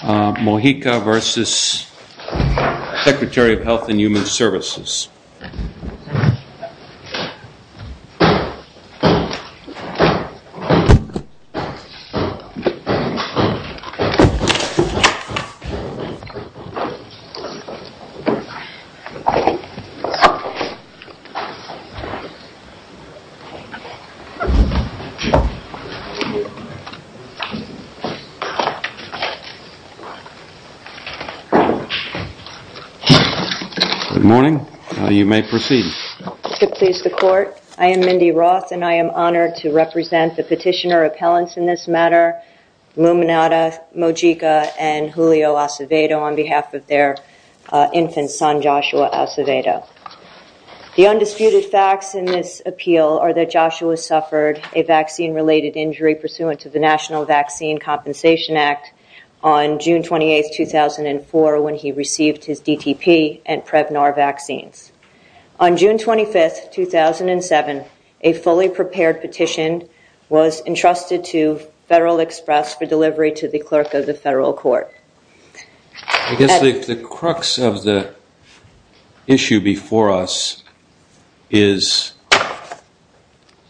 Mojica v. Secretary of Health and Human Services I am Mindy Roth and I am honored to represent the petitioner appellants in this matter, Luminata, Mojica, and Julio Acevedo on behalf of their infant son, Joshua Acevedo. The undisputed facts in this appeal are that Joshua suffered a vaccine-related injury pursuant to the National Vaccine Compensation Act on June 28, 2004 when he received his DTP and Prevnar vaccines. On June 25, 2007, a fully prepared petition was entrusted to Federal Express for delivery to the clerk of the federal court. I guess the crux of the issue before us is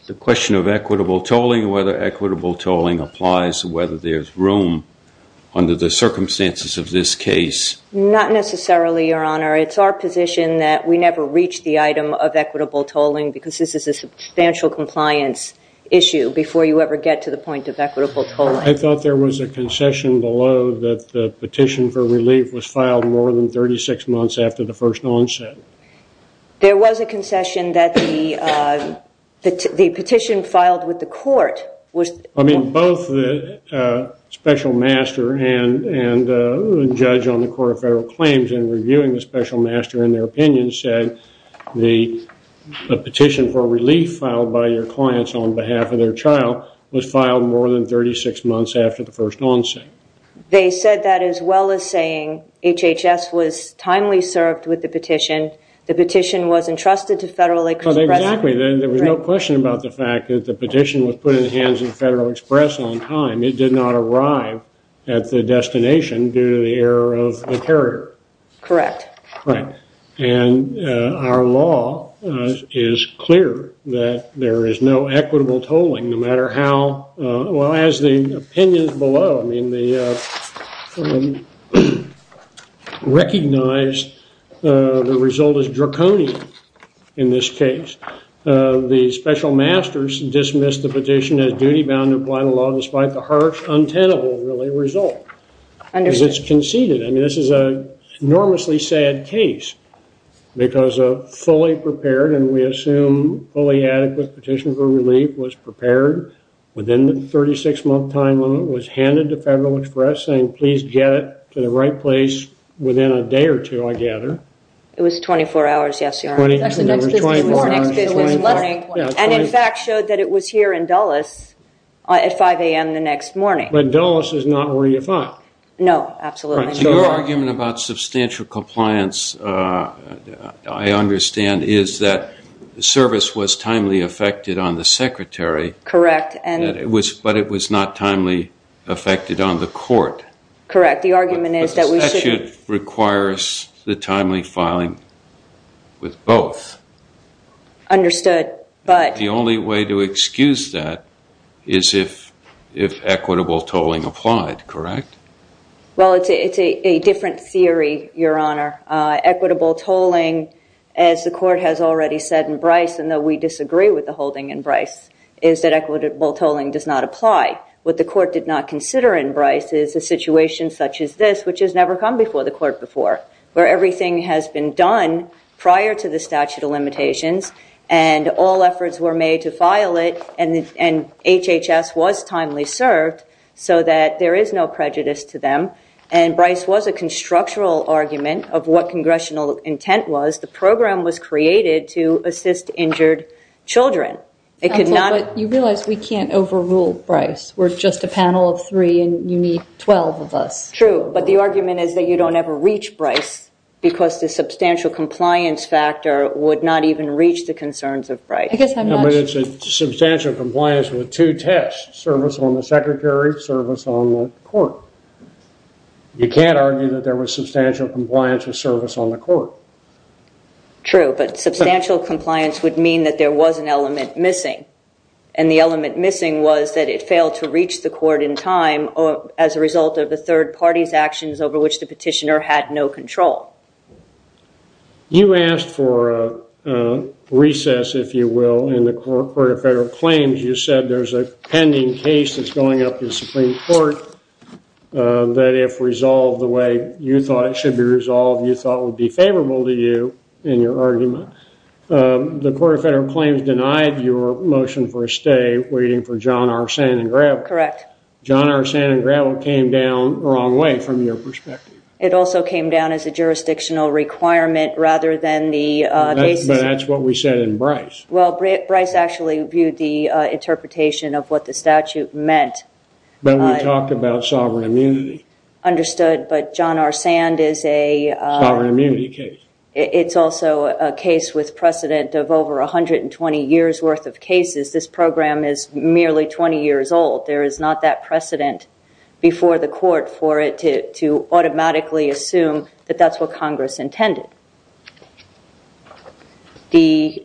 the question of equitable tolling, whether equitable tolling applies, whether there's room under the circumstances of this case. Not necessarily, Your Honor. It's our position that we never reach the item of equitable tolling because this is a substantial compliance issue before you ever get to the point of equitable tolling. I thought there was a concession below that the petition for relief was filed more than 36 months after the first onset. There was a concession that the petition filed with the court was... I mean, both the special master and the judge on the Court of Federal Claims in reviewing the special master in their opinion said the petition for relief filed by your clients on behalf of their child was filed more than 36 months after the first onset. They said that as well as saying HHS was timely served with the petition, the petition was entrusted to Federal Express. Exactly. There was no question about the fact that the petition was put in the hands of Federal Express on time. It did not arrive at the destination due to the error of the carrier. Correct. Right. And our law is clear that there is no equitable tolling no matter how... Well, as the opinions below, I mean, they recognize the result is draconian in this case. The special masters dismissed the petition as duty-bound to apply the law despite the harsh, untenable, really, result because it's conceded. I mean, this is an enormously sad case because a fully prepared and we assume fully adequate petition for relief was prepared within the 36-month time limit, was handed to Federal Express saying, please get it to the right place within a day or two, I gather. It was 24 hours yesterday. Actually, next business morning. Next business morning. And in fact, showed that it was here in Dulles at 5 a.m. the next morning. But Dulles is not where you thought. No, absolutely not. Your argument about substantial compliance, I understand, is that the service was timely affected on the secretary, but it was not timely affected on the court. Correct. The argument is that we should... But the statute requires the timely filing with both. Understood, but... The only way to excuse that is if equitable tolling applied, correct? Well, it's a different theory, Your Honor. Equitable tolling, as the court has already said in Bryce, and though we disagree with the holding in Bryce, is that equitable tolling does not apply. What the court did not consider in Bryce is a situation such as this, which has never come before the court before, where everything has been done prior to the statute of limitations and all efforts were made to file it and HHS was timely served so that there is no prejudice to them. And Bryce was a constructural argument of what congressional intent was. The program was created to assist injured children. It could not... Counsel, but you realize we can't overrule Bryce. We're just a panel of three and you need 12 of us. True, but the argument is that you don't ever reach Bryce because the substantial compliance factor would not even reach the concerns of Bryce. I guess I'm not... No, but it's a substantial compliance with two tests, service on the secretary, service on the court. You can't argue that there was substantial compliance with service on the court. True, but substantial compliance would mean that there was an element missing and the element missing was that it failed to reach the court in time as a result of the third party's actions over which the petitioner had no control. You asked for a recess, if you will, in the court of federal claims. You said there's a pending case that's going up in Supreme Court that if resolved the way you thought it should be resolved, you thought would be favorable to you in your argument. The court of federal claims denied your motion for a stay waiting for John R. Sandin-Gravel. Correct. John R. Sandin-Gravel came down the wrong way from your perspective. It also came down as a jurisdictional requirement rather than the case... But that's what we said in Bryce. Well, Bryce actually viewed the interpretation of what the statute meant. But we talked about sovereign immunity. Understood, but John R. Sandin-Gravel is a... Sovereign immunity case. It's also a case with precedent of over 120 years worth of cases. This program is merely 20 years old. There is not that precedent before the court for it to automatically assume that that's what Congress intended.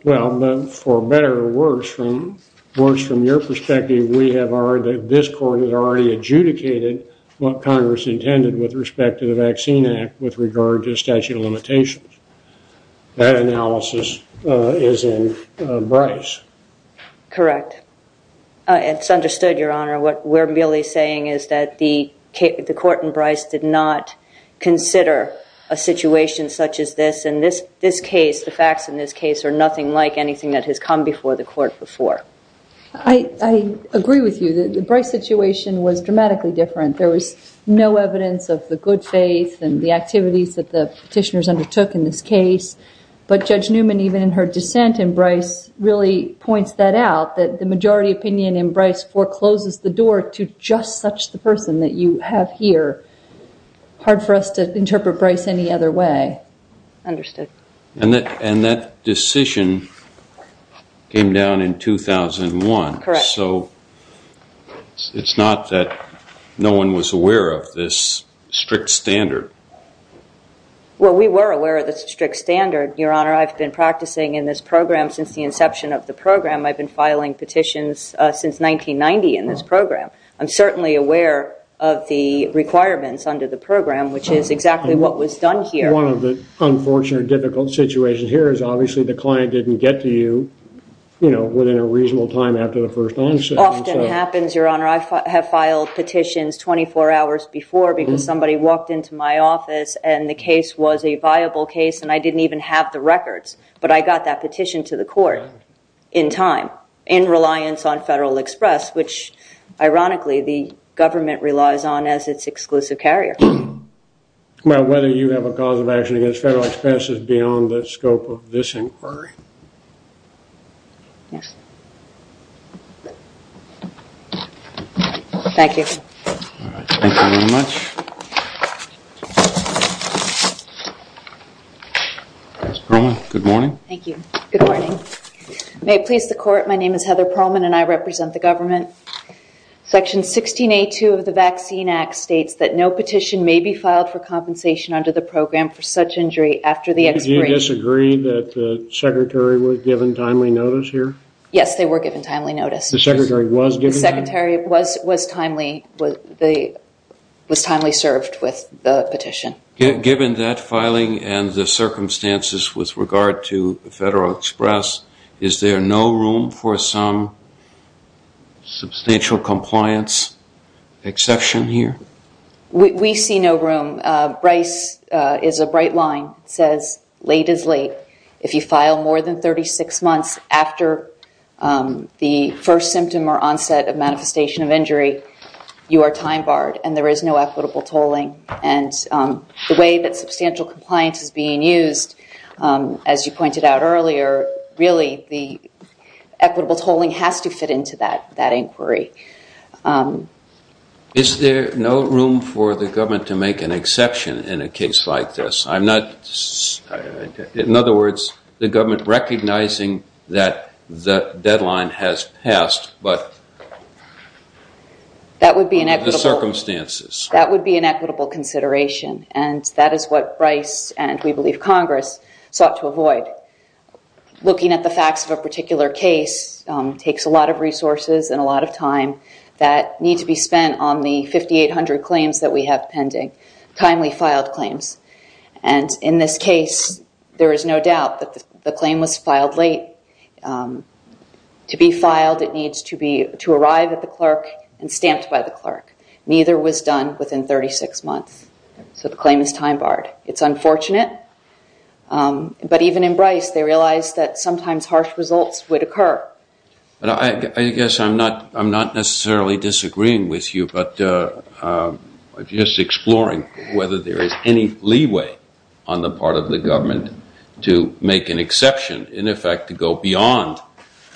Well, for better or worse, from your perspective, we have already... This court has already adjudicated what Congress intended with respect to the Vaccine Act with regard to statute of limitations. That analysis is in Bryce. Correct. It's understood, Your Honor. What we're merely saying is that the court in Bryce did not consider a situation such as this. In this case, the facts in this case are nothing like anything that has come before the court before. I agree with you. The Bryce situation was dramatically different. There was no evidence of the good faith and the activities that the petitioners undertook in this case. But Judge Newman, even in her dissent in Bryce, really points that out, that the majority opinion in Bryce forecloses the door to just such the person that you have here. Hard for us to interpret Bryce any other way. Understood. And that decision came down in 2001. Correct. So it's not that no one was aware of this strict standard. Well, we were aware of this strict standard, Your Honor. I've been practicing in this program since the inception of the program. I've been filing petitions since 1990 in this program. I'm certainly aware of the requirements under the program, which is exactly what was done here. One of the unfortunate, difficult situations here is obviously the client didn't get to you within a reasonable time after the first onset. Often happens, Your Honor. I have filed petitions 24 hours before because somebody walked into my office and the case was a viable case and I didn't even have the records. But I got that petition to the court in time, in reliance on Federal Express, which ironically the government relies on as its exclusive carrier. Well, whether you have a cause of action against Federal Express is beyond the scope of this inquiry. Thank you. All right. Thank you very much. Ms. Perlman, good morning. Thank you. Good morning. May it please the court, my name is Heather Perlman and I represent the government. Section 16A2 of the Vaccine Act states that no petition may be filed for compensation under the program for such injury after the expiration. Do you disagree that the Secretary was given timely notice here? Yes, they were given timely notice. The Secretary was given timely notice? The Secretary was timely served with the petition. Given that filing and the circumstances with regard to Federal Express, is there no room for some substantial compliance exception here? We see no room. Bryce is a bright line. It says late is late. But if you file more than 36 months after the first symptom or onset of manifestation of injury, you are time barred and there is no equitable tolling. And the way that substantial compliance is being used, as you pointed out earlier, really the equitable tolling has to fit into that inquiry. Is there no room for the government to make an exception in a case like this? I'm not... In other words, the government recognizing that the deadline has passed, but... That would be an equitable... The circumstances. That would be an equitable consideration. And that is what Bryce and we believe Congress sought to avoid. Looking at the facts of a particular case takes a lot of resources and a lot of time that need to be spent on the 5800 claims that we have pending. Timely filed claims. And in this case, there is no doubt that the claim was filed late. To be filed, it needs to arrive at the clerk and stamped by the clerk. Neither was done within 36 months. So the claim is time barred. It's unfortunate. But even in Bryce, they realized that sometimes harsh results would occur. I guess I'm not necessarily disagreeing with you, but just exploring whether there is any leeway on the part of the government to make an exception, in effect, to go beyond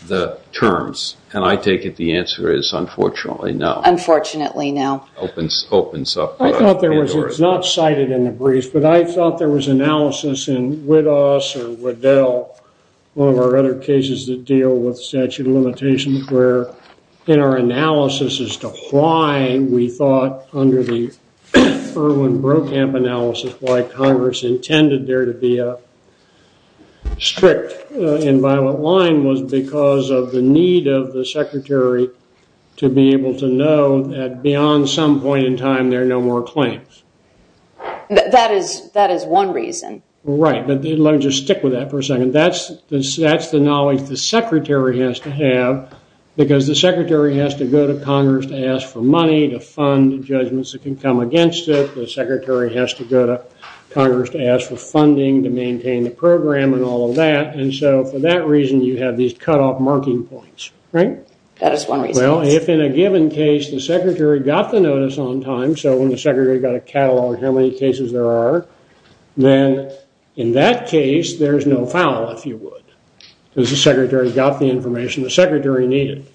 the terms. And I take it the answer is unfortunately no. Unfortunately no. Opens up... I thought there was... It's not cited in the briefs, but I thought there was analysis in Widoss or Waddell, one deal with statute of limitations, where in our analysis as to why we thought under the Irwin Brokamp analysis, why Congress intended there to be a strict and violent line was because of the need of the secretary to be able to know that beyond some point in time, there are no more claims. That is one reason. Right. But let me just stick with that for a second. And that's the knowledge the secretary has to have, because the secretary has to go to Congress to ask for money to fund judgments that can come against it, the secretary has to go to Congress to ask for funding to maintain the program and all of that. And so for that reason, you have these cutoff marking points, right? That is one reason. Well, if in a given case, the secretary got the notice on time, so when the secretary got a catalog, how many cases there are, then in that case, there's no foul, if you would, because the secretary got the information the secretary needed.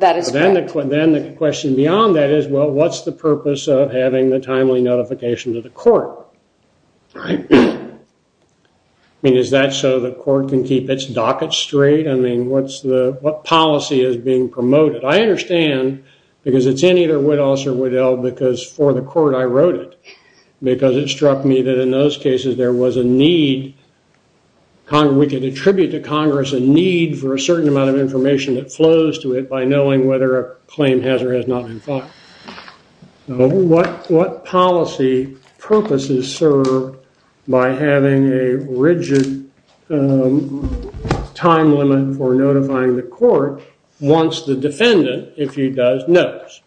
That is correct. Then the question beyond that is, well, what's the purpose of having the timely notification to the court? Right? I mean, is that so the court can keep its docket straight? I mean, what policy is being promoted? I understand, because it's in either Widdows or Waddell, because for the court, I wrote it, because it struck me that in those cases, there was a need, we could attribute to Congress a need for a certain amount of information that flows to it by knowing whether a claim has or has not been filed. What policy purposes, sir, by having a rigid time limit for notifying the court, once the defendant, if he does, knows?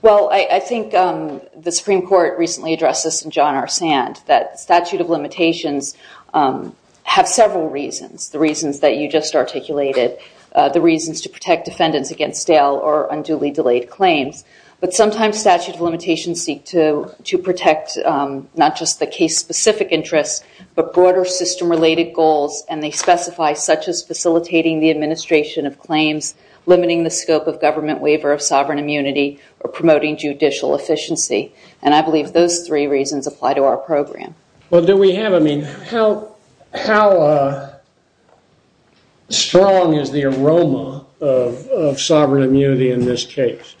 Well, I think the Supreme Court recently addressed this in John R. Sand, that statute of limitations have several reasons, the reasons that you just articulated, the reasons to protect defendants against stale or unduly delayed claims. But sometimes statute of limitations seek to protect not just the case-specific interests, but broader system-related goals, and they specify such as facilitating the administration of claims, limiting the scope of government waiver of sovereign immunity, or promoting judicial efficiency. And I believe those three reasons apply to our program. Well, do we have, I mean, how strong is the aroma of sovereign immunity in this case?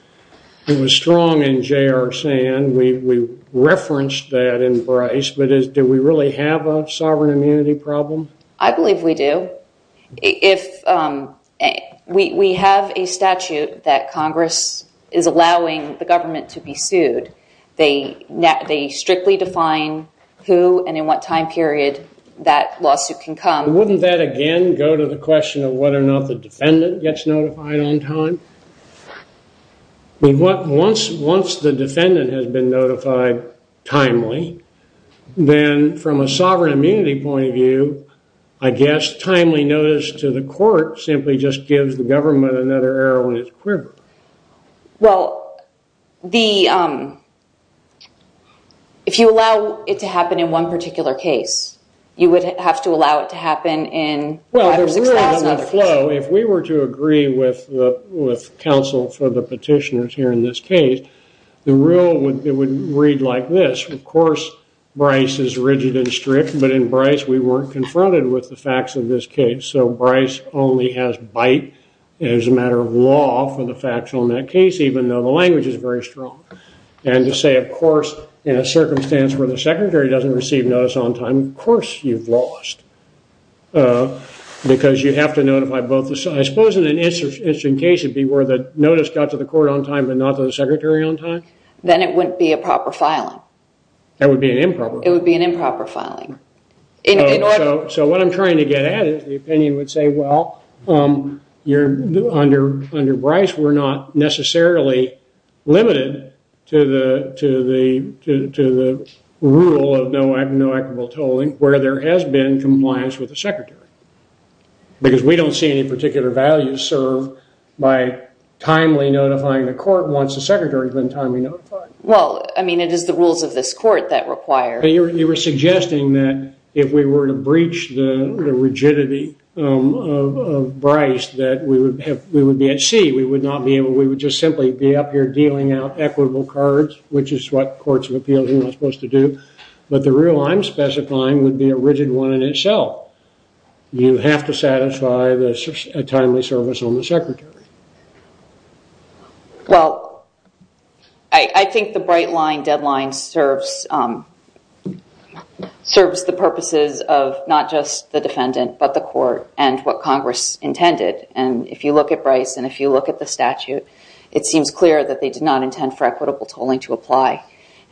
It was strong in J.R. Sand, we referenced that in Bryce, but do we really have a sovereign immunity problem? I believe we do. If we have a statute that Congress is allowing the government to be sued, they strictly define who and in what time period that lawsuit can come. Wouldn't that, again, go to the question of whether or not the defendant gets notified on time? I mean, once the defendant has been notified timely, then from a sovereign immunity point of view, I guess timely notice to the court simply just gives the government another arrow in its quiver. Well, the, if you allow it to happen in one particular case, you would have to allow it to happen in five or six thousand other cases. Well, the rule of the flow, if we were to agree with counsel for the petitioners here in this case, the rule would read like this. Of course, Bryce is rigid and strict, but in Bryce we weren't confronted with the facts of this case. So Bryce only has bite as a matter of law for the facts on that case, even though the language is very strong. And to say, of course, in a circumstance where the secretary doesn't receive notice on time, of course you've lost. Because you have to notify both the, I suppose in an instant case it would be where the notice got to the court on time but not to the secretary on time. Then it wouldn't be a proper filing. That would be an improper. It would be an improper filing. So what I'm trying to get at is the opinion would say, well, under Bryce we're not necessarily limited to the rule of no equitable tolling where there has been compliance with the secretary. Because we don't see any particular value served by timely notifying the court once the secretary has been timely notified. Well, I mean, it is the rules of this court that require. You were suggesting that if we were to breach the rigidity of Bryce that we would be at sea. We would just simply be up here dealing out equitable cards, which is what courts of appeals are not supposed to do. But the rule I'm specifying would be a rigid one in itself. You have to satisfy a timely service on the secretary. Well, I think the bright line deadline serves the purposes of not just the defendant but the court and what Congress intended. And if you look at Bryce and if you look at the statute, it seems clear that they did not intend for equitable tolling to apply.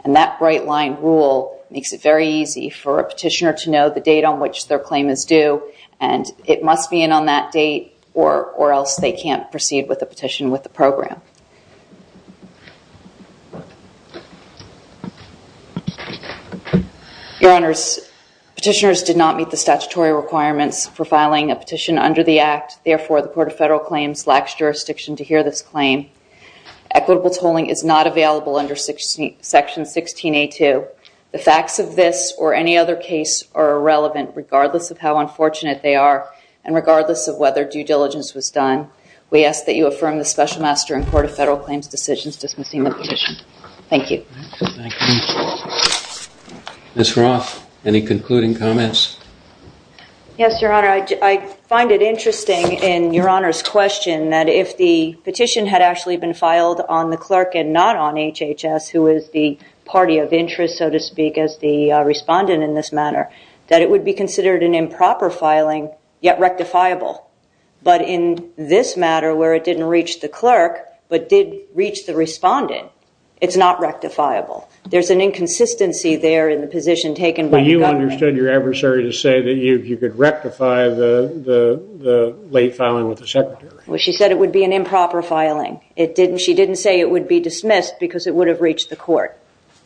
And that bright line rule makes it very easy for a petitioner to know the date on which their claim is due. And it must be in on that date or else they can't proceed with a petition with the program. Your honors, petitioners did not meet the statutory requirements for filing a petition under the act. Therefore, the court of federal claims lacks jurisdiction to hear this claim. Equitable tolling is not available under section 16A2. The facts of this or any other case are irrelevant regardless of how unfortunate they are and regardless of whether due diligence was done. We ask that you affirm the special master in court of federal claims decisions dismissing the petition. Thank you. Thank you. Ms. Roth, any concluding comments? Yes, your honor. I find it interesting in your honor's question that if the petition had actually been filed on the clerk and not on HHS, who is the party of interest, so to speak, as the respondent in this matter, that it would be considered an improper filing yet rectifiable. But in this matter where it didn't reach the clerk but did reach the respondent, it's not rectifiable. There's an inconsistency there in the position taken by the government. You understood your adversary to say that you could rectify the late filing with the secretary. Well, she said it would be an improper filing. She didn't say it would be dismissed because it would have reached the court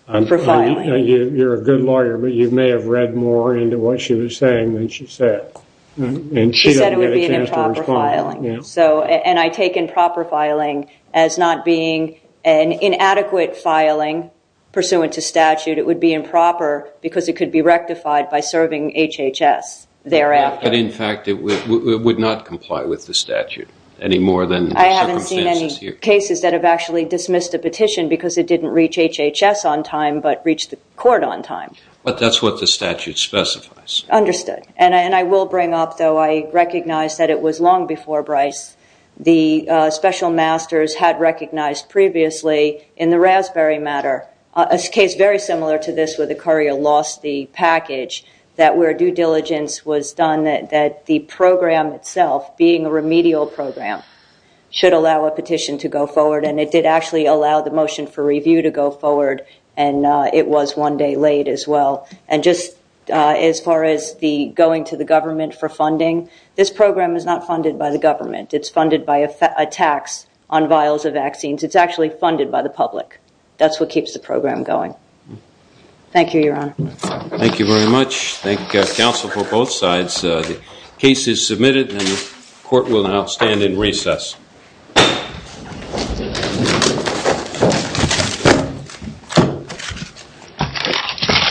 for filing. You're a good lawyer, but you may have read more into what she was saying than she said. And she said it would be an improper filing. And I take improper filing as not being an inadequate filing pursuant to statute. It would be improper because it could be rectified by serving HHS thereafter. But in fact, it would not comply with the statute any more than the circumstances. Cases that have actually dismissed a petition because it didn't reach HHS on time but reached the court on time. But that's what the statute specifies. Understood. And I will bring up, though, I recognize that it was long before Bryce. The special masters had recognized previously in the Raspberry matter, a case very similar to this where the courier lost the package, that where due diligence was done that the program itself, being a remedial program, should allow a petition to go forward. And it did actually allow the motion for review to go forward. And it was one day late as well. And just as far as the going to the government for funding, this program is not funded by the government. It's funded by a tax on vials of vaccines. It's actually funded by the public. That's what keeps the program going. Thank you, Your Honor. Thank you very much. Thank you, counsel, for both sides. The case is submitted and the court will now stand in recess.